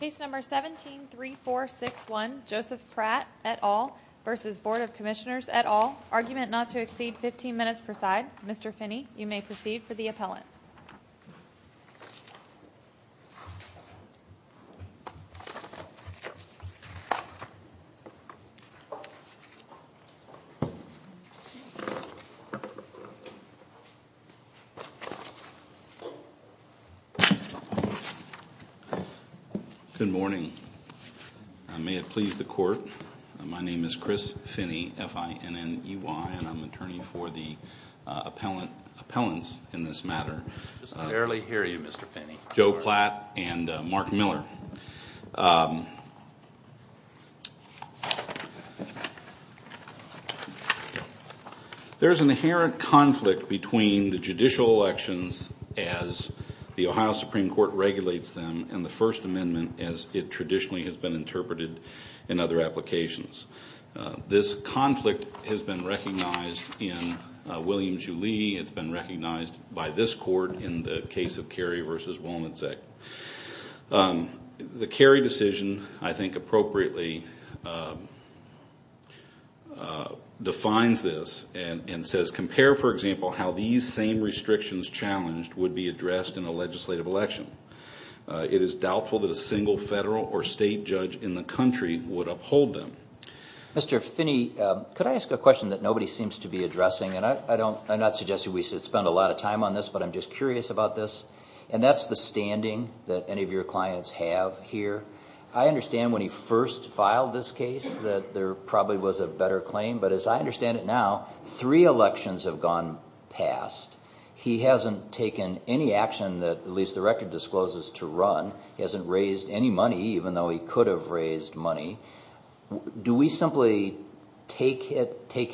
Case No. 17-3461 Joseph Pratt v. Board of Commissioners et al. Argument not to exceed 15 minutes per side. Mr. Finney, you may proceed for the appellant. Good morning. May it please the Court, my name is Chris Finney, F-I-N-N-E-Y, and I'm the attorney for the appellants in this matter. Barely hear you, Mr. Finney. Joe Platt and Mark Miller. There is an inherent conflict between the judicial elections as the Ohio Supreme Court regulates them and the First Amendment as it traditionally has been interpreted in other applications. This conflict has been recognized in Williams v. Lee, it's been recognized by this Court in the case of Carey v. Woolman's Act. The Carey decision, I think appropriately, defines this and says, Compare, for example, how these same restrictions challenged would be addressed in a legislative election. It is doubtful that a single federal or state judge in the country would uphold them. Mr. Finney, could I ask a question that nobody seems to be addressing? And I'm not suggesting we should spend a lot of time on this, but I'm just curious about this. And that's the standing that any of your clients have here. I understand when he first filed this case that there probably was a better claim, but as I understand it now, three elections have gone past. He hasn't taken any action that, at least the record discloses, to run. He hasn't raised any money, even though he could have raised money. Do we simply take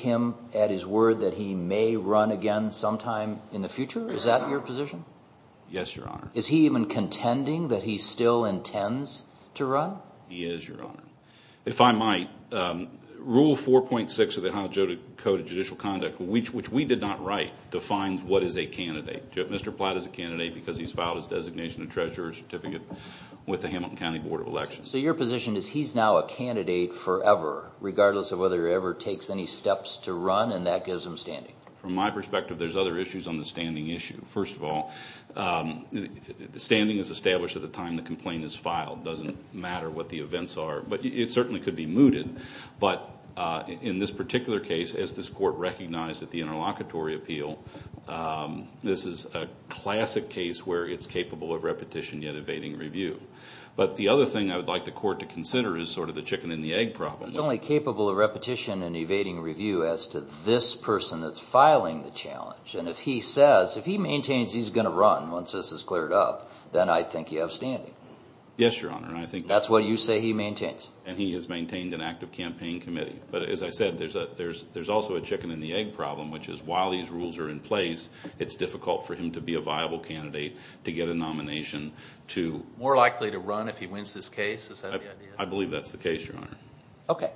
him at his word that he may run again sometime in the future? Yes, Your Honor. Is he even contending that he still intends to run? He is, Your Honor. If I might, Rule 4.6 of the Ohio Code of Judicial Conduct, which we did not write, defines what is a candidate. Mr. Platt is a candidate because he's filed his designation and treasurer's certificate with the Hamilton County Board of Elections. So your position is he's now a candidate forever, regardless of whether he ever takes any steps to run, and that gives him standing? From my perspective, there's other issues on the standing issue. First of all, standing is established at the time the complaint is filed. It doesn't matter what the events are, but it certainly could be mooted. But in this particular case, as this Court recognized at the interlocutory appeal, this is a classic case where it's capable of repetition yet evading review. But the other thing I would like the Court to consider is sort of the chicken and the egg problem. He's only capable of repetition and evading review as to this person that's filing the challenge. And if he says, if he maintains he's going to run once this is cleared up, then I think you have standing. Yes, Your Honor. That's what you say he maintains. And he has maintained an active campaign committee. But as I said, there's also a chicken and the egg problem, which is while these rules are in place, it's difficult for him to be a viable candidate to get a nomination to— More likely to run if he wins this case? Is that the idea? I believe that's the case, Your Honor. Okay.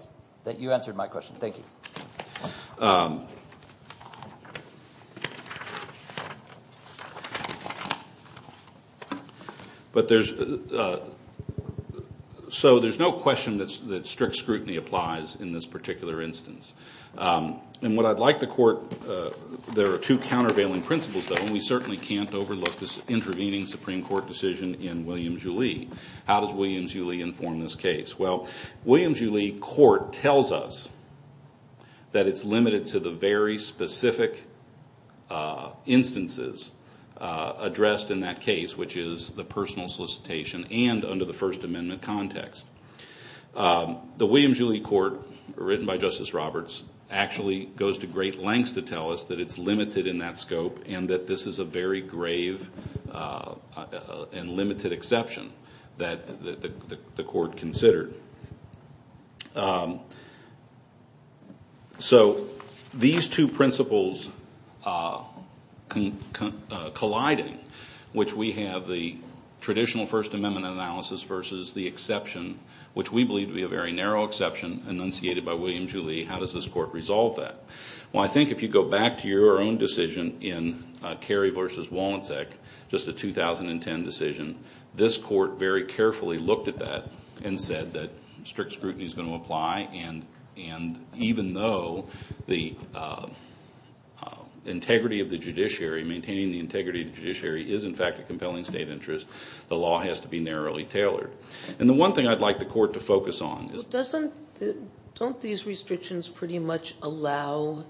You answered my question. Thank you. But there's—so there's no question that strict scrutiny applies in this particular instance. And what I'd like the Court—there are two countervailing principles, though, and we certainly can't overlook this intervening Supreme Court decision in William Julley. How does William Julley inform this case? Well, William Julley court tells us that it's limited to the very specific instances addressed in that case, which is the personal solicitation and under the First Amendment context. The William Julley court, written by Justice Roberts, actually goes to great lengths to tell us that it's limited in that scope and that this is a very grave and limited exception that the court considered. So these two principles colliding, which we have the traditional First Amendment analysis versus the exception, which we believe to be a very narrow exception enunciated by William Julley, how does this court resolve that? Well, I think if you go back to your own decision in Carey v. Walencek, just a 2010 decision, this court very carefully looked at that and said that strict scrutiny is going to apply. And even though the integrity of the judiciary, maintaining the integrity of the judiciary, is in fact a compelling state interest, the law has to be narrowly tailored. And the one thing I'd like the Court to focus on is— Don't these restrictions pretty much allow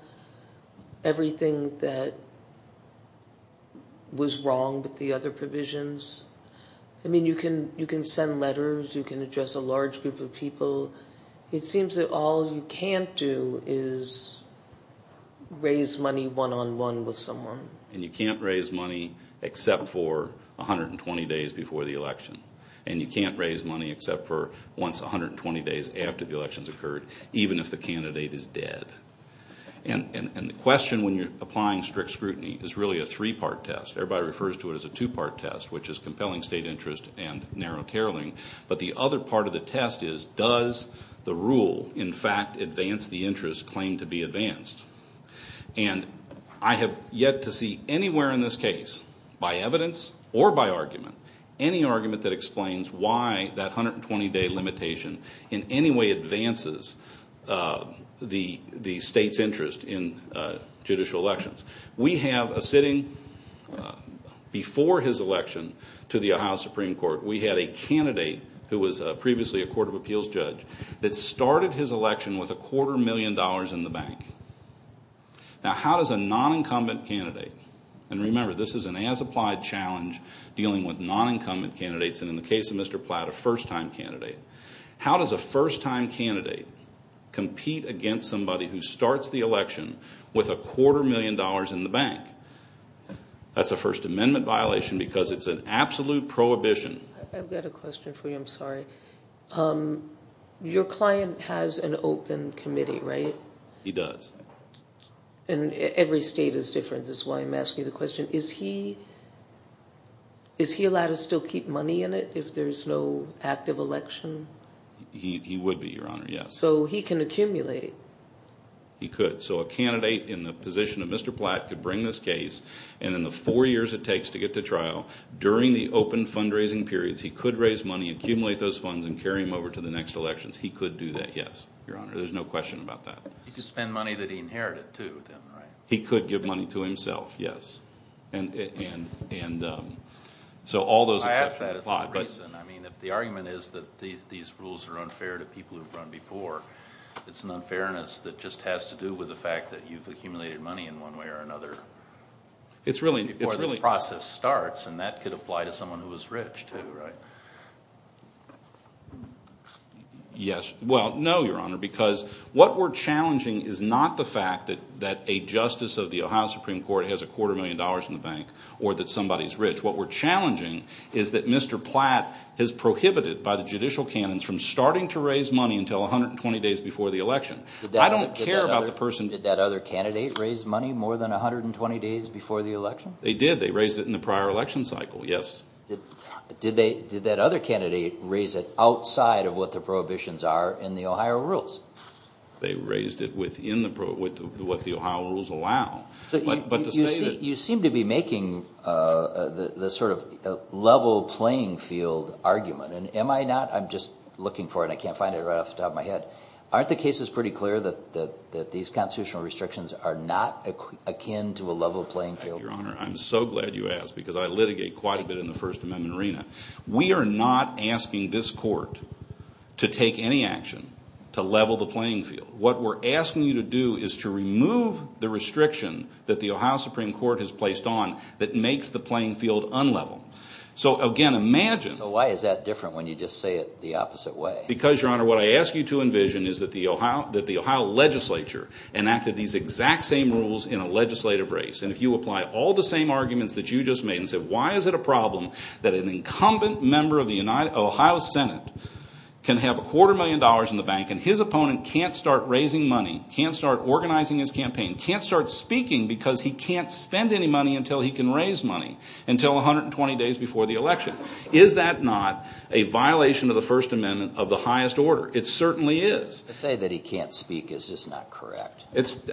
everything that was wrong with the other provisions? I mean, you can send letters, you can address a large group of people. It seems that all you can't do is raise money one-on-one with someone. And you can't raise money except for 120 days before the election. And you can't raise money except for once 120 days after the election has occurred, even if the candidate is dead. And the question when you're applying strict scrutiny is really a three-part test. Everybody refers to it as a two-part test, which is compelling state interest and narrow tailoring. But the other part of the test is, does the rule in fact advance the interest claimed to be advanced? And I have yet to see anywhere in this case, by evidence or by argument, any argument that explains why that 120-day limitation in any way advances the state's interest in judicial elections. We have a sitting—before his election to the Ohio Supreme Court, we had a candidate who was previously a Court of Appeals judge that started his election with a quarter million dollars in the bank. Now, how does a non-incumbent candidate—and remember, this is an as-applied challenge dealing with non-incumbent candidates, and in the case of Mr. Platt, a first-time candidate— how does a first-time candidate compete against somebody who starts the election with a quarter million dollars in the bank? That's a First Amendment violation because it's an absolute prohibition. I've got a question for you. I'm sorry. Your client has an open committee, right? He does. And every state is different. That's why I'm asking the question. Is he allowed to still keep money in it if there's no active election? He would be, Your Honor, yes. So he can accumulate? He could. So a candidate in the position of Mr. Platt could bring this case, and in the four years it takes to get to trial, during the open fundraising periods, he could raise money, accumulate those funds, and carry them over to the next elections. He could do that, yes, Your Honor. There's no question about that. He could spend money that he inherited, too, then, right? He could give money to himself, yes. I ask that as a reason. I mean, if the argument is that these rules are unfair to people who've run before, it's an unfairness that just has to do with the fact that you've accumulated money in one way or another before this process starts, and that could apply to someone who is rich, too, right? Yes. Well, no, Your Honor, because what we're challenging is not the fact that a justice of the Ohio Supreme Court has a quarter million dollars in the bank, or that somebody is rich. What we're challenging is that Mr. Platt is prohibited by the judicial canons from starting to raise money until 120 days before the election. I don't care about the person – Did that other candidate raise money more than 120 days before the election? They did. They raised it in the prior election cycle, yes. Did that other candidate raise it outside of what the prohibitions are in the Ohio rules? They raised it within what the Ohio rules allow. You seem to be making the sort of level playing field argument, and am I not? I'm just looking for it, and I can't find it right off the top of my head. Aren't the cases pretty clear that these constitutional restrictions are not akin to a level playing field? Your Honor, I'm so glad you asked because I litigate quite a bit in the First Amendment arena. We are not asking this court to take any action to level the playing field. What we're asking you to do is to remove the restriction that the Ohio Supreme Court has placed on that makes the playing field unlevel. So, again, imagine – So why is that different when you just say it the opposite way? Because, Your Honor, what I ask you to envision is that the Ohio legislature enacted these exact same rules in a legislative race. And if you apply all the same arguments that you just made and said why is it a problem that an incumbent member of the Ohio Senate can have a quarter million dollars in the bank and his opponent can't start raising money, can't start organizing his campaign, can't start speaking because he can't spend any money until he can raise money until 120 days before the election. Is that not a violation of the First Amendment of the highest order? It certainly is. To say that he can't speak is just not correct.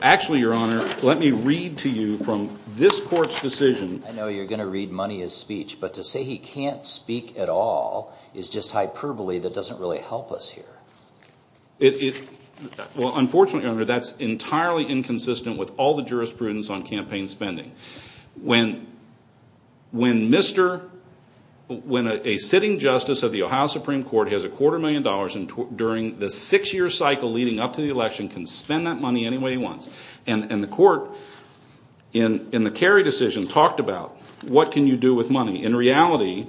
Actually, Your Honor, let me read to you from this court's decision. I know you're going to read money as speech, but to say he can't speak at all is just hyperbole that doesn't really help us here. Well, unfortunately, Your Honor, that's entirely inconsistent with all the jurisprudence on campaign spending. When a sitting justice of the Ohio Supreme Court has a quarter million dollars during the six-year cycle leading up to the election, can spend that money any way he wants. And the court, in the Kerry decision, talked about what can you do with money. In reality,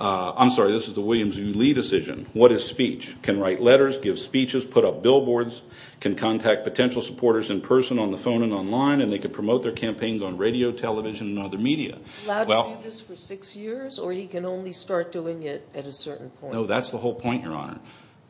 I'm sorry, this is the Williams v. Lee decision, what is speech? Can write letters, give speeches, put up billboards, can contact potential supporters in person on the phone and online, and they can promote their campaigns on radio, television, and other media. Allowed to do this for six years or he can only start doing it at a certain point? No, that's the whole point, Your Honor.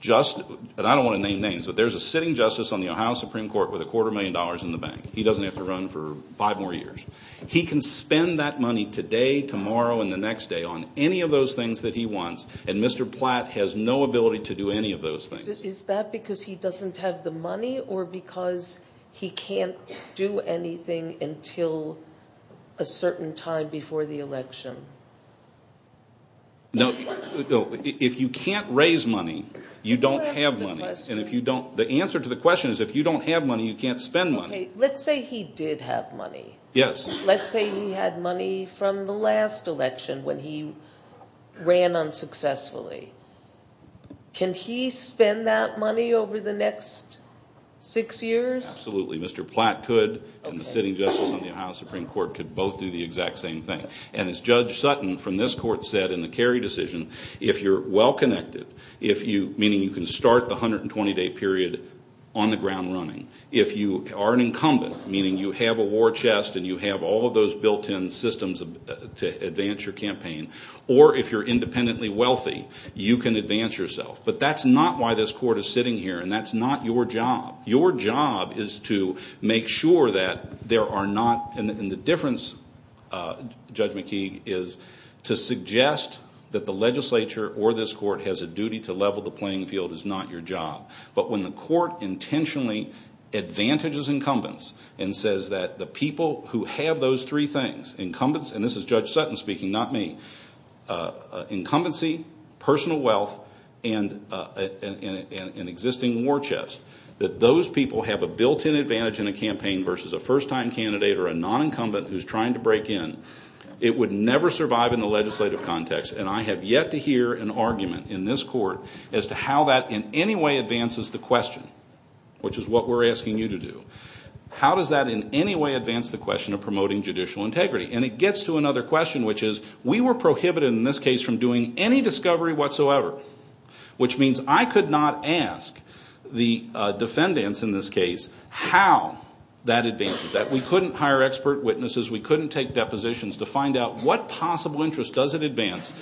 Just, and I don't want to name names, but there's a sitting justice on the Ohio Supreme Court with a quarter million dollars in the bank. He doesn't have to run for five more years. He can spend that money today, tomorrow, and the next day on any of those things that he wants, and Mr. Platt has no ability to do any of those things. Is that because he doesn't have the money or because he can't do anything until a certain time before the election? No, if you can't raise money, you don't have money. The answer to the question is if you don't have money, you can't spend money. Okay, let's say he did have money. Yes. Let's say he had money from the last election when he ran unsuccessfully. Can he spend that money over the next six years? Absolutely, Mr. Platt could, and the sitting justice on the Ohio Supreme Court could both do the exact same thing. And as Judge Sutton from this court said in the Kerry decision, if you're well-connected, meaning you can start the 120-day period on the ground running, if you are an incumbent, meaning you have a war chest and you have all of those built-in systems to advance your campaign, or if you're independently wealthy, you can advance yourself. But that's not why this court is sitting here, and that's not your job. Your job is to make sure that there are not – and the difference, Judge McKee, is to suggest that the legislature or this court has a duty to level the playing field is not your job. But when the court intentionally advantages incumbents and says that the people who have those three things, incumbents, and this is Judge Sutton speaking, not me, incumbency, personal wealth, and an existing war chest, that those people have a built-in advantage in a campaign versus a first-time candidate or a non-incumbent who's trying to break in, it would never survive in the legislative context. And I have yet to hear an argument in this court as to how that in any way advances the question, which is what we're asking you to do. How does that in any way advance the question of promoting judicial integrity? And it gets to another question, which is we were prohibited in this case from doing any discovery whatsoever, which means I could not ask the defendants in this case how that advances that. We couldn't hire expert witnesses. We couldn't take depositions to find out what possible interest does it advance.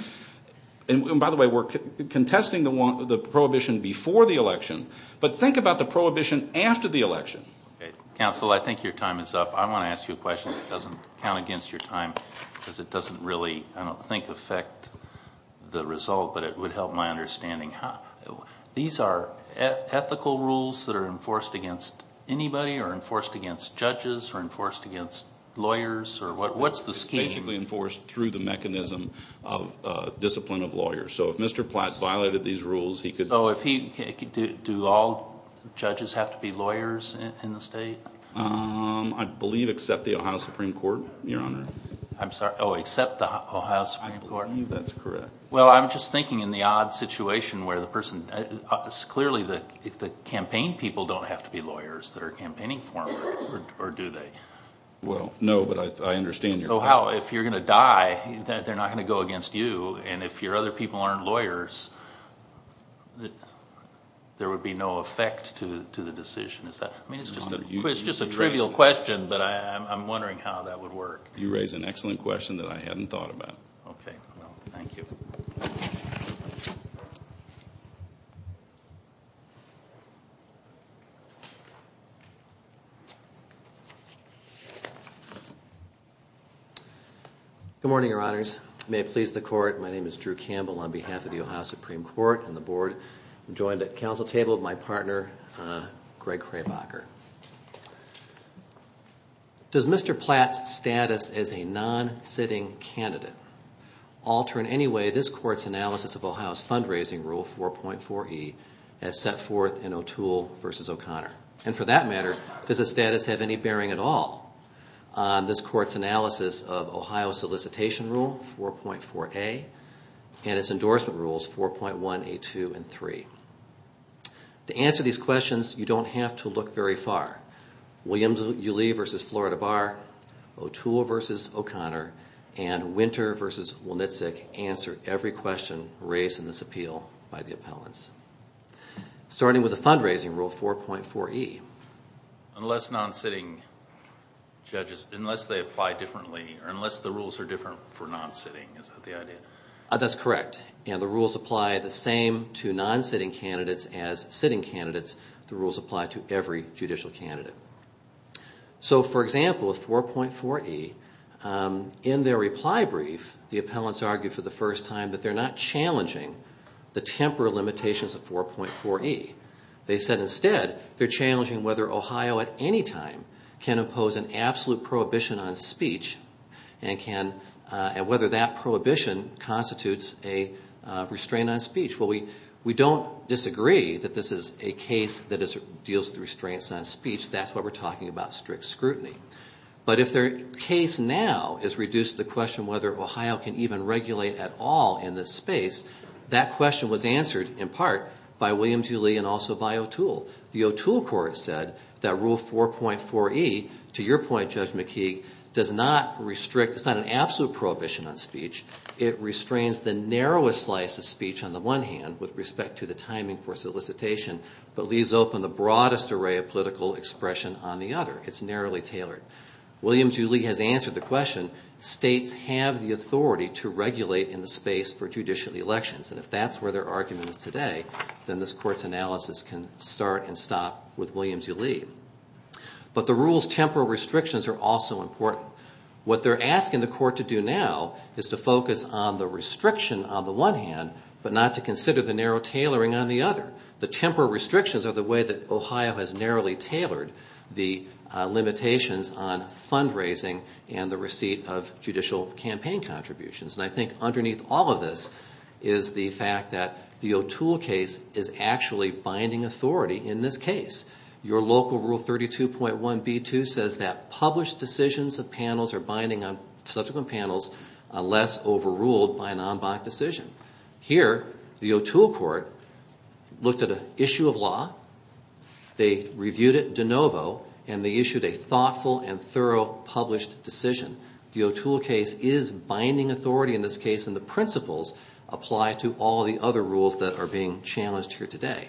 And by the way, we're contesting the prohibition before the election. But think about the prohibition after the election. Counsel, I think your time is up. I want to ask you a question that doesn't count against your time because it doesn't really, I don't think, affect the result, but it would help my understanding. These are ethical rules that are enforced against anybody or enforced against judges or enforced against lawyers? What's the scheme? It's basically enforced through the mechanism of discipline of lawyers. So if Mr. Platt violated these rules, he could... Oh, do all judges have to be lawyers in the state? I believe except the Ohio Supreme Court, Your Honor. I'm sorry, oh, except the Ohio Supreme Court? I believe that's correct. Well, I'm just thinking in the odd situation where the person, clearly the campaign people don't have to be lawyers that are campaigning for him, or do they? Well, no, but I understand your question. So how, if you're going to die, they're not going to go against you, and if your other people aren't lawyers, there would be no effect to the decision? I mean, it's just a trivial question, but I'm wondering how that would work. You raise an excellent question that I hadn't thought about. Okay, well, thank you. Good morning, Your Honors. May it please the Court, my name is Drew Campbell. On behalf of the Ohio Supreme Court and the Board, I'm joined at the council table by my partner, Greg Kraybacher. Does Mr. Platt's status as a non-sitting candidate alter in any way this Court's analysis of Ohio's fundraising rule, 4.4E, as set forth in O'Toole v. O'Connor? And for that matter, does his status have any bearing at all on this Court's analysis of Ohio's solicitation rule, 4.4A, and its endorsement rules, 4.1A2 and 3? To answer these questions, you don't have to look very far. Williams v. Uli v. Florida Bar, O'Toole v. O'Connor, and Winter v. Walnitzek answer every question raised in this appeal by the appellants. Starting with the fundraising rule, 4.4E. Unless non-sitting judges, unless they apply differently, or unless the rules are different for non-sitting, is that the idea? That's correct, and the rules apply the same to non-sitting candidates as sitting candidates. The rules apply to every judicial candidate. So, for example, with 4.4E, in their reply brief, the appellants argued for the first time that they're not challenging the temporary limitations of 4.4E. They said, instead, they're challenging whether Ohio at any time can impose an absolute prohibition on speech, and whether that prohibition constitutes a restraint on speech. Well, we don't disagree that this is a case that deals with restraints on speech. That's what we're talking about, strict scrutiny. But if their case now is reduced to the question whether Ohio can even regulate at all in this space, that question was answered, in part, by William T. Lee and also by O'Toole. The O'Toole court said that Rule 4.4E, to your point, Judge McKeague, does not restrict, it's not an absolute prohibition on speech. It restrains the narrowest slice of speech on the one hand, with respect to the timing for solicitation, but leaves open the broadest array of political expression on the other. It's narrowly tailored. William T. Lee has answered the question, states have the authority to regulate in the space for judicial elections. And if that's where their argument is today, then this court's analysis can start and stop with William T. Lee. But the rule's temporal restrictions are also important. What they're asking the court to do now is to focus on the restriction on the one hand, but not to consider the narrow tailoring on the other. The temporal restrictions are the way that Ohio has narrowly tailored the limitations on fundraising and the receipt of judicial campaign contributions. And I think underneath all of this is the fact that the O'Toole case is actually binding authority in this case. Your local Rule 32.1b2 says that published decisions of panels are binding on subsequent panels unless overruled by an en banc decision. Here, the O'Toole court looked at an issue of law, they reviewed it de novo, and they issued a thoughtful and thorough published decision. The O'Toole case is binding authority in this case, and the principles apply to all the other rules that are being challenged here today.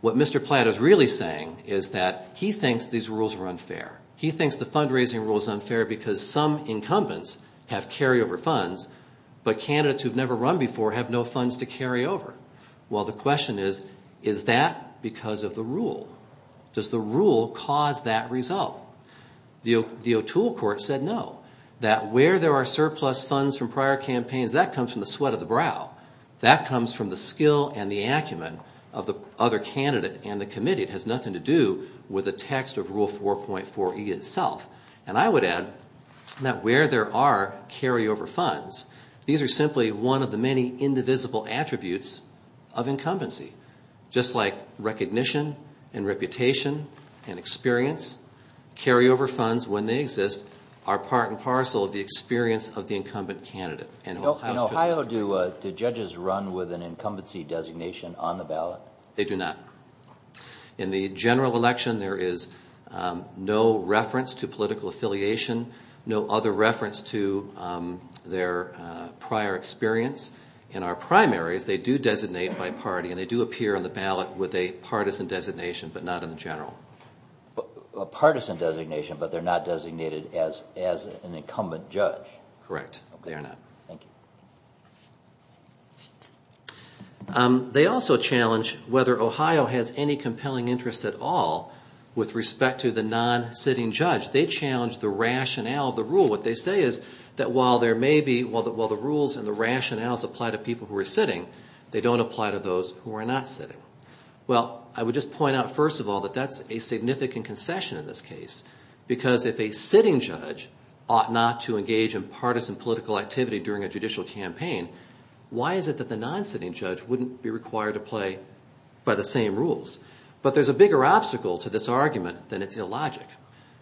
What Mr. Platt is really saying is that he thinks these rules are unfair. He thinks the fundraising rule is unfair because some incumbents have carryover funds, but candidates who've never run before have no funds to carry over. Well, the question is, is that because of the rule? Does the rule cause that result? The O'Toole court said no. That where there are surplus funds from prior campaigns, that comes from the sweat of the brow. That comes from the skill and the acumen of the other candidate and the committee. It has nothing to do with the text of Rule 4.4e itself. And I would add that where there are carryover funds, these are simply one of the many indivisible attributes of incumbency. Just like recognition and reputation and experience, carryover funds, when they exist, are part and parcel of the experience of the incumbent candidate. In Ohio, do judges run with an incumbency designation on the ballot? They do not. In the general election, there is no reference to political affiliation, no other reference to their prior experience. In our primaries, they do designate by party, and they do appear on the ballot with a partisan designation, but not in the general. A partisan designation, but they're not designated as an incumbent judge. Correct, they are not. Thank you. They also challenge whether Ohio has any compelling interest at all with respect to the non-sitting judge. They challenge the rationale of the rule. What they say is that while the rules and the rationales apply to people who are sitting, they don't apply to those who are not sitting. Well, I would just point out first of all that that's a significant concession in this case, because if a sitting judge ought not to engage in partisan political activity during a judicial campaign, why is it that the non-sitting judge wouldn't be required to play by the same rules? But there's a bigger obstacle to this argument than its illogic.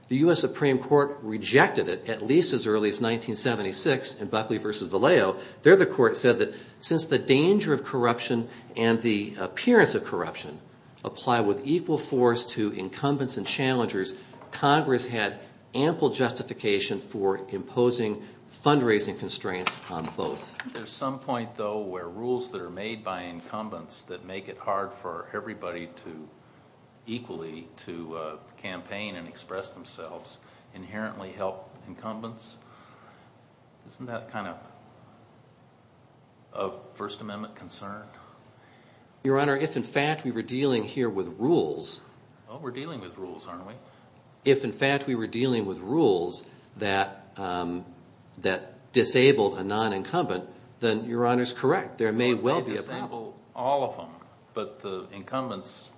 The U.S. Supreme Court rejected it at least as early as 1976 in Buckley v. Valeo. There the court said that since the danger of corruption and the appearance of corruption apply with equal force to incumbents and challengers, Congress had ample justification for imposing fundraising constraints on both. There's some point, though, where rules that are made by incumbents that make it hard for everybody equally to campaign and express themselves inherently help incumbents? Isn't that kind of a First Amendment concern? Your Honor, if in fact we were dealing here with rules… Oh, we're dealing with rules, aren't we? If in fact we were dealing with rules that disabled a non-incumbent, then Your Honor's correct. There may well be a problem. Well, disable all of them, but the incumbents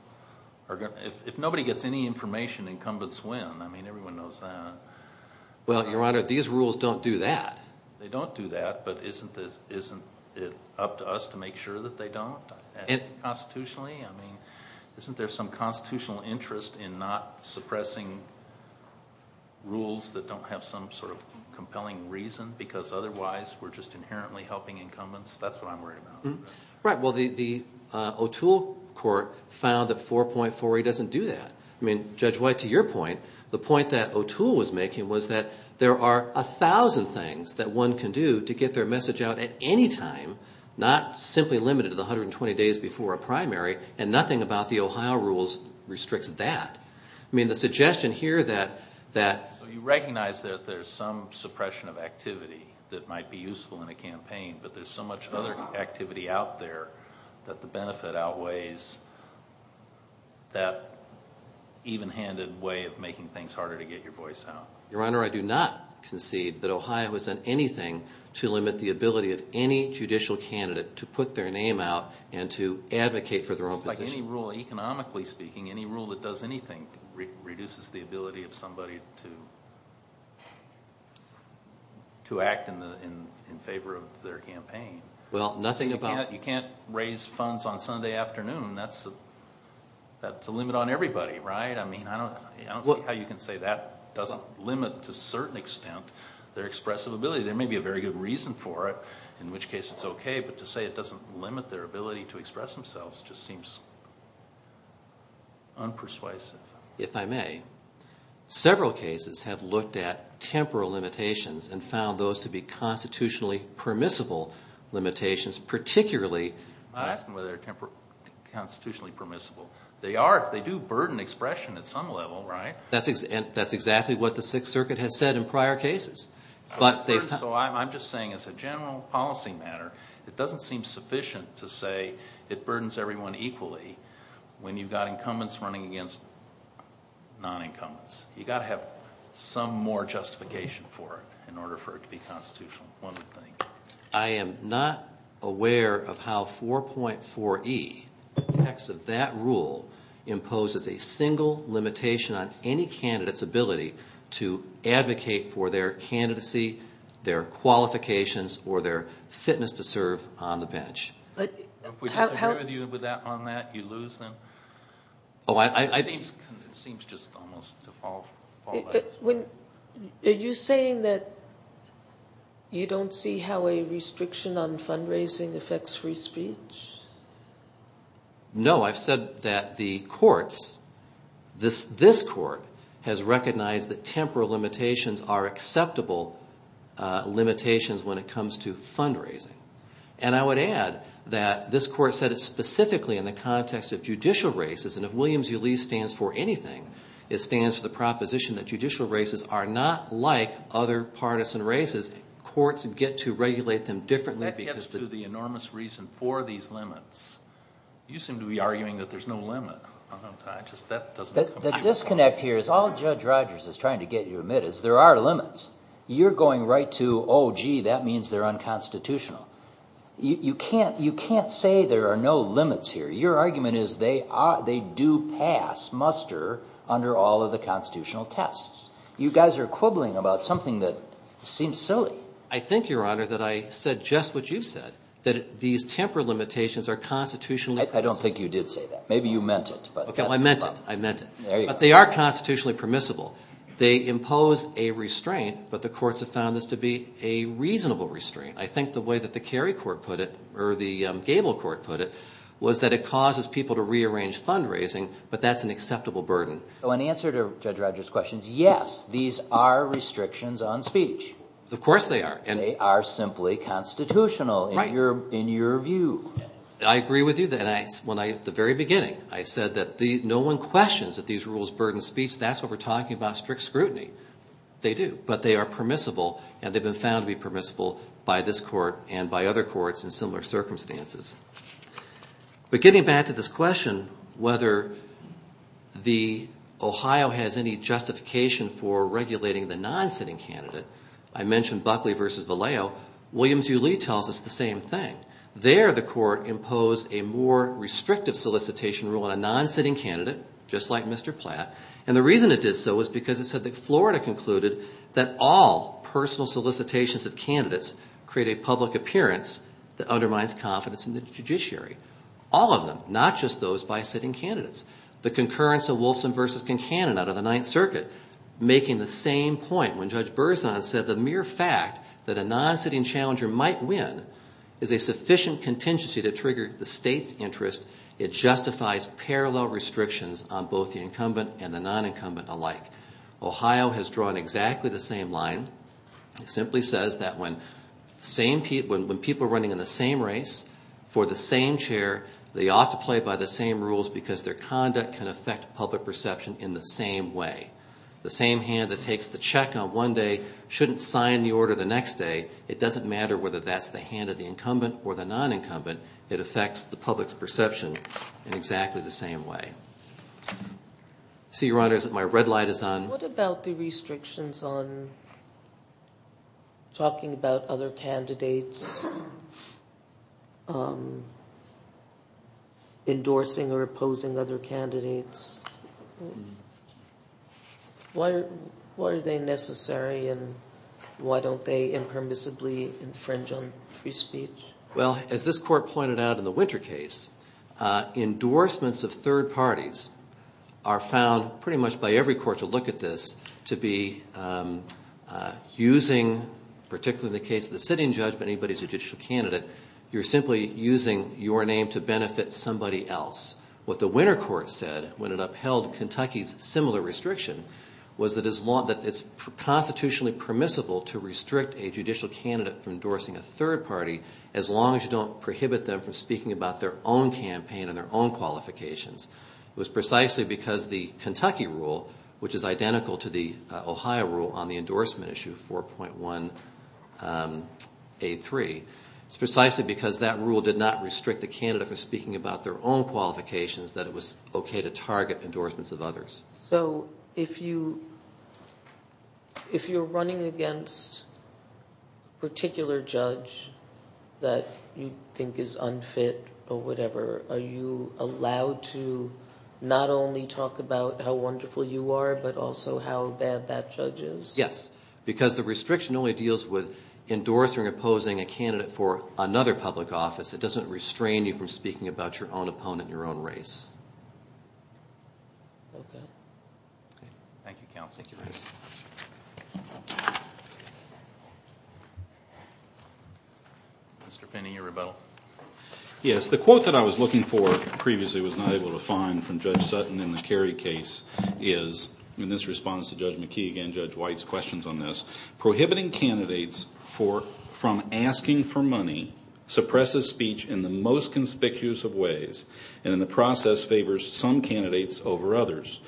are going to – if nobody gets any information, incumbents win. I mean, everyone knows that. Well, Your Honor, these rules don't do that. They don't do that, but isn't it up to us to make sure that they don't constitutionally? I mean, isn't there some constitutional interest in not suppressing rules that don't have some sort of compelling reason because otherwise we're just inherently helping incumbents? That's what I'm worried about. Right. Well, the O'Toole court found that 4.48 doesn't do that. I mean, Judge White, to your point, the point that O'Toole was making was that there are a thousand things that one can do to get their message out at any time, not simply limited to the 120 days before a primary, and nothing about the Ohio rules restricts that. I mean, the suggestion here that… So you recognize that there's some suppression of activity that might be useful in a campaign, but there's so much other activity out there that the benefit outweighs that even-handed way of making things harder to get your voice out. Your Honor, I do not concede that Ohio has done anything to limit the ability of any judicial candidate to put their name out and to advocate for their own position. Economically speaking, any rule that does anything reduces the ability of somebody to act in favor of their campaign. Well, nothing about… You can't raise funds on Sunday afternoon. That's a limit on everybody, right? I don't see how you can say that doesn't limit to a certain extent their expressive ability. There may be a very good reason for it, in which case it's okay, but to say it doesn't limit their ability to express themselves just seems unpersuasive. If I may, several cases have looked at temporal limitations and found those to be constitutionally permissible limitations, particularly… I'm not asking whether they're constitutionally permissible. They are if they do burden expression at some level, right? That's exactly what the Sixth Circuit has said in prior cases. So I'm just saying as a general policy matter, it doesn't seem sufficient to say it burdens everyone equally when you've got incumbents running against non-incumbents. You've got to have some more justification for it in order for it to be constitutional, one would think. I am not aware of how 4.4E, the text of that rule, imposes a single limitation on any candidate's ability to advocate for their candidacy, their qualifications, or their fitness to serve on the bench. If we disagree with you on that, you lose then? Oh, I… It seems just almost default. Are you saying that you don't see how a restriction on fundraising affects free speech? No, I've said that the courts, this court, has recognized that temporal limitations are acceptable limitations when it comes to fundraising. And I would add that this court said it specifically in the context of judicial races. And if Williams v. Lee stands for anything, it stands for the proposition that judicial races are not like other partisan races. Courts get to regulate them differently because… That gets to the enormous reason for these limits. You seem to be arguing that there's no limit. The disconnect here is all Judge Rogers is trying to get you to admit is there are limits. You're going right to, oh, gee, that means they're unconstitutional. You can't say there are no limits here. Your argument is they do pass, muster, under all of the constitutional tests. You guys are quibbling about something that seems silly. I think, Your Honor, that I said just what you've said, that these temporal limitations are constitutionally permissible. I don't think you did say that. Maybe you meant it. Okay, well, I meant it. I meant it. But they are constitutionally permissible. They impose a restraint, but the courts have found this to be a reasonable restraint. I think the way that the Cary court put it, or the Gable court put it, was that it causes people to rearrange fundraising, but that's an acceptable burden. So in answer to Judge Rogers' questions, yes, these are restrictions on speech. Of course they are. They are simply constitutional in your view. I agree with you. At the very beginning, I said that no one questions that these rules burden speech. That's what we're talking about, strict scrutiny. They do, but they are permissible, and they've been found to be permissible by this court and by other courts in similar circumstances. But getting back to this question, whether Ohio has any justification for regulating the non-sitting candidate, I mentioned Buckley v. Vallejo. Williams v. Lee tells us the same thing. There the court imposed a more restrictive solicitation rule on a non-sitting candidate, just like Mr. Platt. And the reason it did so was because it said that Florida concluded that all personal solicitations of candidates create a public appearance that undermines confidence in the judiciary. All of them, not just those by sitting candidates. The concurrence of Wilson v. Kincannon out of the Ninth Circuit, making the same point when Judge Berzon said the mere fact that a non-sitting challenger might win is a sufficient contingency to trigger the state's interest. It justifies parallel restrictions on both the incumbent and the non-incumbent alike. Ohio has drawn exactly the same line. It simply says that when people running in the same race for the same chair, they ought to play by the same rules because their conduct can affect public perception in the same way. The same hand that takes the check on one day shouldn't sign the order the next day. It doesn't matter whether that's the hand of the incumbent or the non-incumbent. It affects the public's perception in exactly the same way. I see, Your Honors, that my red light is on. What about the restrictions on talking about other candidates, endorsing or opposing other candidates? Why are they necessary and why don't they impermissibly infringe on free speech? Well, as this Court pointed out in the Winter case, endorsements of third parties are found pretty much by every court to look at this to be using, particularly in the case of the sitting judgment, anybody's a judicial candidate. You're simply using your name to benefit somebody else. What the Winter Court said when it upheld Kentucky's similar restriction was that it's constitutionally permissible to restrict a judicial candidate from endorsing a third party as long as you don't prohibit them from speaking about their own campaign and their own qualifications. It was precisely because the Kentucky rule, which is identical to the Ohio rule on the endorsement issue 4.1A3, it's precisely because that rule did not restrict the candidate from speaking about their own qualifications that it was okay to target endorsements of others. So if you're running against a particular judge that you think is unfit or whatever, are you allowed to not only talk about how wonderful you are, but also how bad that judge is? Yes, because the restriction only deals with endorsing or opposing a candidate for another public office. It doesn't restrain you from speaking about your own opponent and your own race. Okay. Thank you, counsel. Yes, the quote that I was looking for previously was not able to find from Judge Sutton in the Kerry case is, and this responds to Judge McKee and Judge White's questions on this, prohibiting candidates from asking for money suppresses speech in the most conspicuous of ways and in the process favors some candidates over others.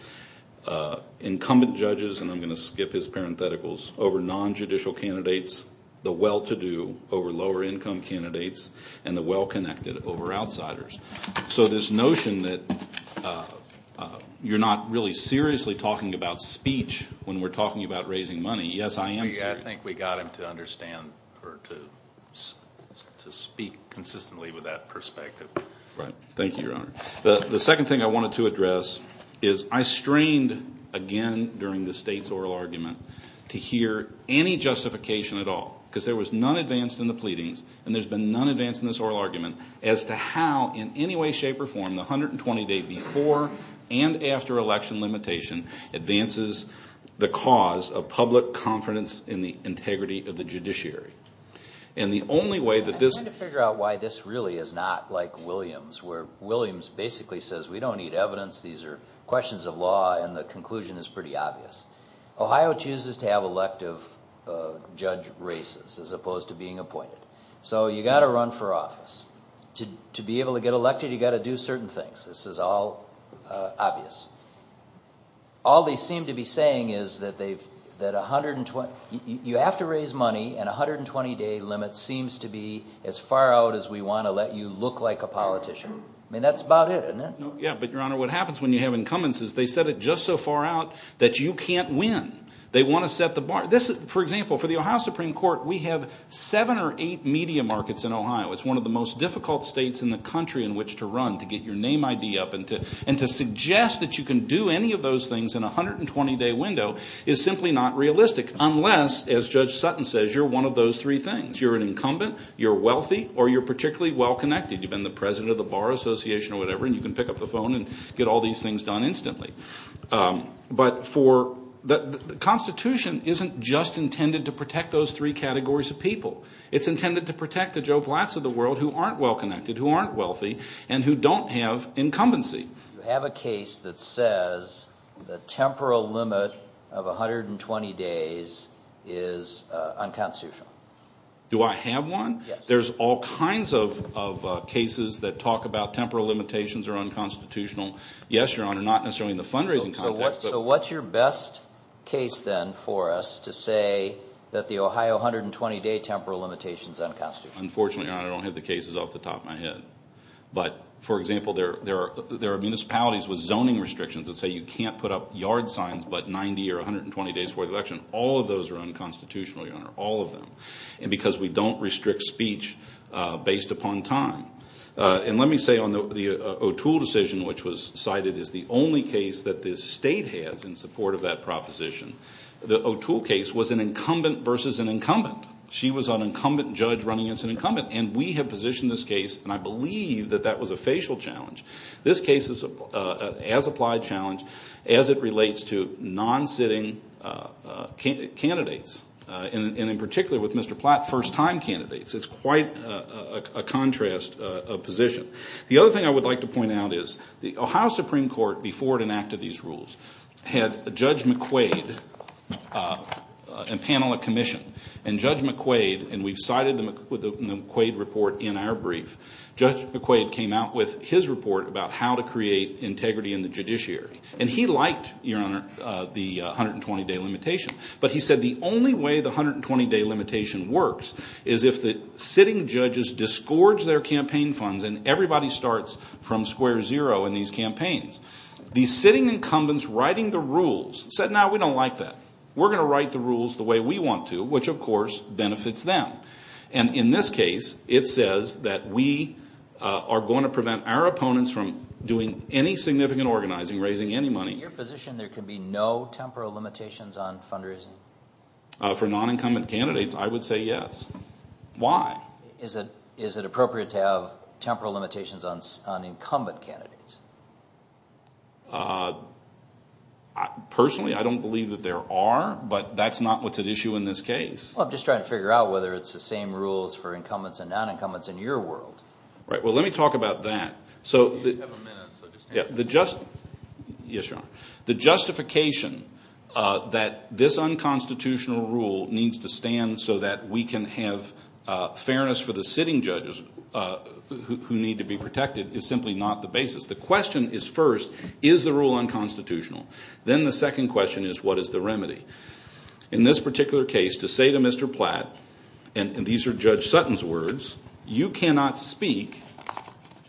Incumbent judges, and I'm going to skip his parentheticals, over non-judicial candidates, the well-to-do over lower-income candidates, and the well-connected over outsiders. So this notion that you're not really seriously talking about speech when we're talking about raising money, yes, I am serious. I think we got him to understand or to speak consistently with that perspective. Right. Thank you, Your Honor. The second thing I wanted to address is I strained again during the State's oral argument to hear any justification at all because there was none advanced in the pleadings and there's been none advanced in this oral argument as to how in any way, shape, or form the 120-day before and after election limitation advances the cause of public confidence in the integrity of the judiciary. I'm trying to figure out why this really is not like Williams where Williams basically says we don't need evidence. These are questions of law and the conclusion is pretty obvious. Ohio chooses to have elective judge races as opposed to being appointed. So you've got to run for office. To be able to get elected, you've got to do certain things. This is all obvious. All they seem to be saying is that you have to raise money and a 120-day limit seems to be as far out as we want to let you look like a politician. I mean, that's about it, isn't it? Yeah, but, Your Honor, what happens when you have incumbents is they set it just so far out that you can't win. They want to set the bar. For example, for the Ohio Supreme Court, we have seven or eight media markets in Ohio. It's one of the most difficult states in the country in which to run, to get your name ID up, and to suggest that you can do any of those things in a 120-day window is simply not realistic, unless, as Judge Sutton says, you're one of those three things. You're an incumbent, you're wealthy, or you're particularly well-connected. You've been the president of the Bar Association or whatever, and you can pick up the phone and get all these things done instantly. But the Constitution isn't just intended to protect those three categories of people. It's intended to protect the Joe Blatts of the world who aren't well-connected, who aren't wealthy, and who don't have incumbency. You have a case that says the temporal limit of 120 days is unconstitutional. Do I have one? Yes. There's all kinds of cases that talk about temporal limitations are unconstitutional. Yes, Your Honor, not necessarily in the fundraising context. So what's your best case then for us to say that the Ohio 120-day temporal limitation is unconstitutional? Unfortunately, Your Honor, I don't have the cases off the top of my head. But, for example, there are municipalities with zoning restrictions that say you can't put up yard signs but 90 or 120 days before the election. All of those are unconstitutional, Your Honor, all of them. And because we don't restrict speech based upon time. And let me say on the O'Toole decision, which was cited as the only case that this state has in support of that proposition, the O'Toole case was an incumbent versus an incumbent. She was an incumbent judge running against an incumbent. And we have positioned this case, and I believe that that was a facial challenge. This case is an as-applied challenge as it relates to non-sitting candidates. And in particular with Mr. Platt, first-time candidates. It's quite a contrast of position. The other thing I would like to point out is the Ohio Supreme Court, before it enacted these rules, had Judge McQuaid and panel of commission. And Judge McQuaid, and we've cited the McQuaid report in our brief, Judge McQuaid came out with his report about how to create integrity in the judiciary. And he liked, Your Honor, the 120-day limitation. But he said the only way the 120-day limitation works is if the sitting judges disgorge their campaign funds and everybody starts from square zero in these campaigns. The sitting incumbents writing the rules said, no, we don't like that. We're going to write the rules the way we want to, which of course benefits them. And in this case, it says that we are going to prevent our opponents from doing any significant organizing, raising any money. In your position, there can be no temporal limitations on fundraising? For non-incumbent candidates, I would say yes. Why? Is it appropriate to have temporal limitations on incumbent candidates? Personally, I don't believe that there are. But that's not what's at issue in this case. I'm just trying to figure out whether it's the same rules for incumbents and non-incumbents in your world. Right. Well, let me talk about that. So the justification that this unconstitutional rule needs to stand so that we can have fairness for the sitting judges who need to be protected is simply not the basis. The question is first, is the rule unconstitutional? Then the second question is, what is the remedy? In this particular case, to say to Mr. Platt, and these are Judge Sutton's words, you cannot speak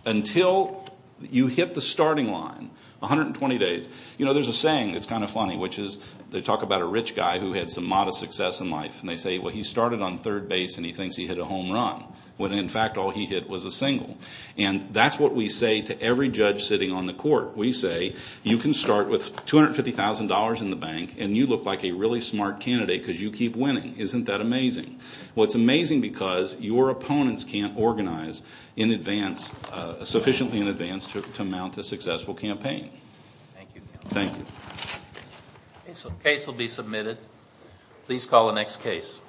until you hit the starting line, 120 days. You know, there's a saying that's kind of funny, which is they talk about a rich guy who had some modest success in life. And they say, well, he started on third base and he thinks he hit a home run, when in fact all he hit was a single. And that's what we say to every judge sitting on the court. We say, you can start with $250,000 in the bank and you look like a really smart candidate because you keep winning. Isn't that amazing? Well, it's amazing because your opponents can't organize sufficiently in advance to mount a successful campaign. Thank you. Thank you. The case will be submitted. Please call the next case.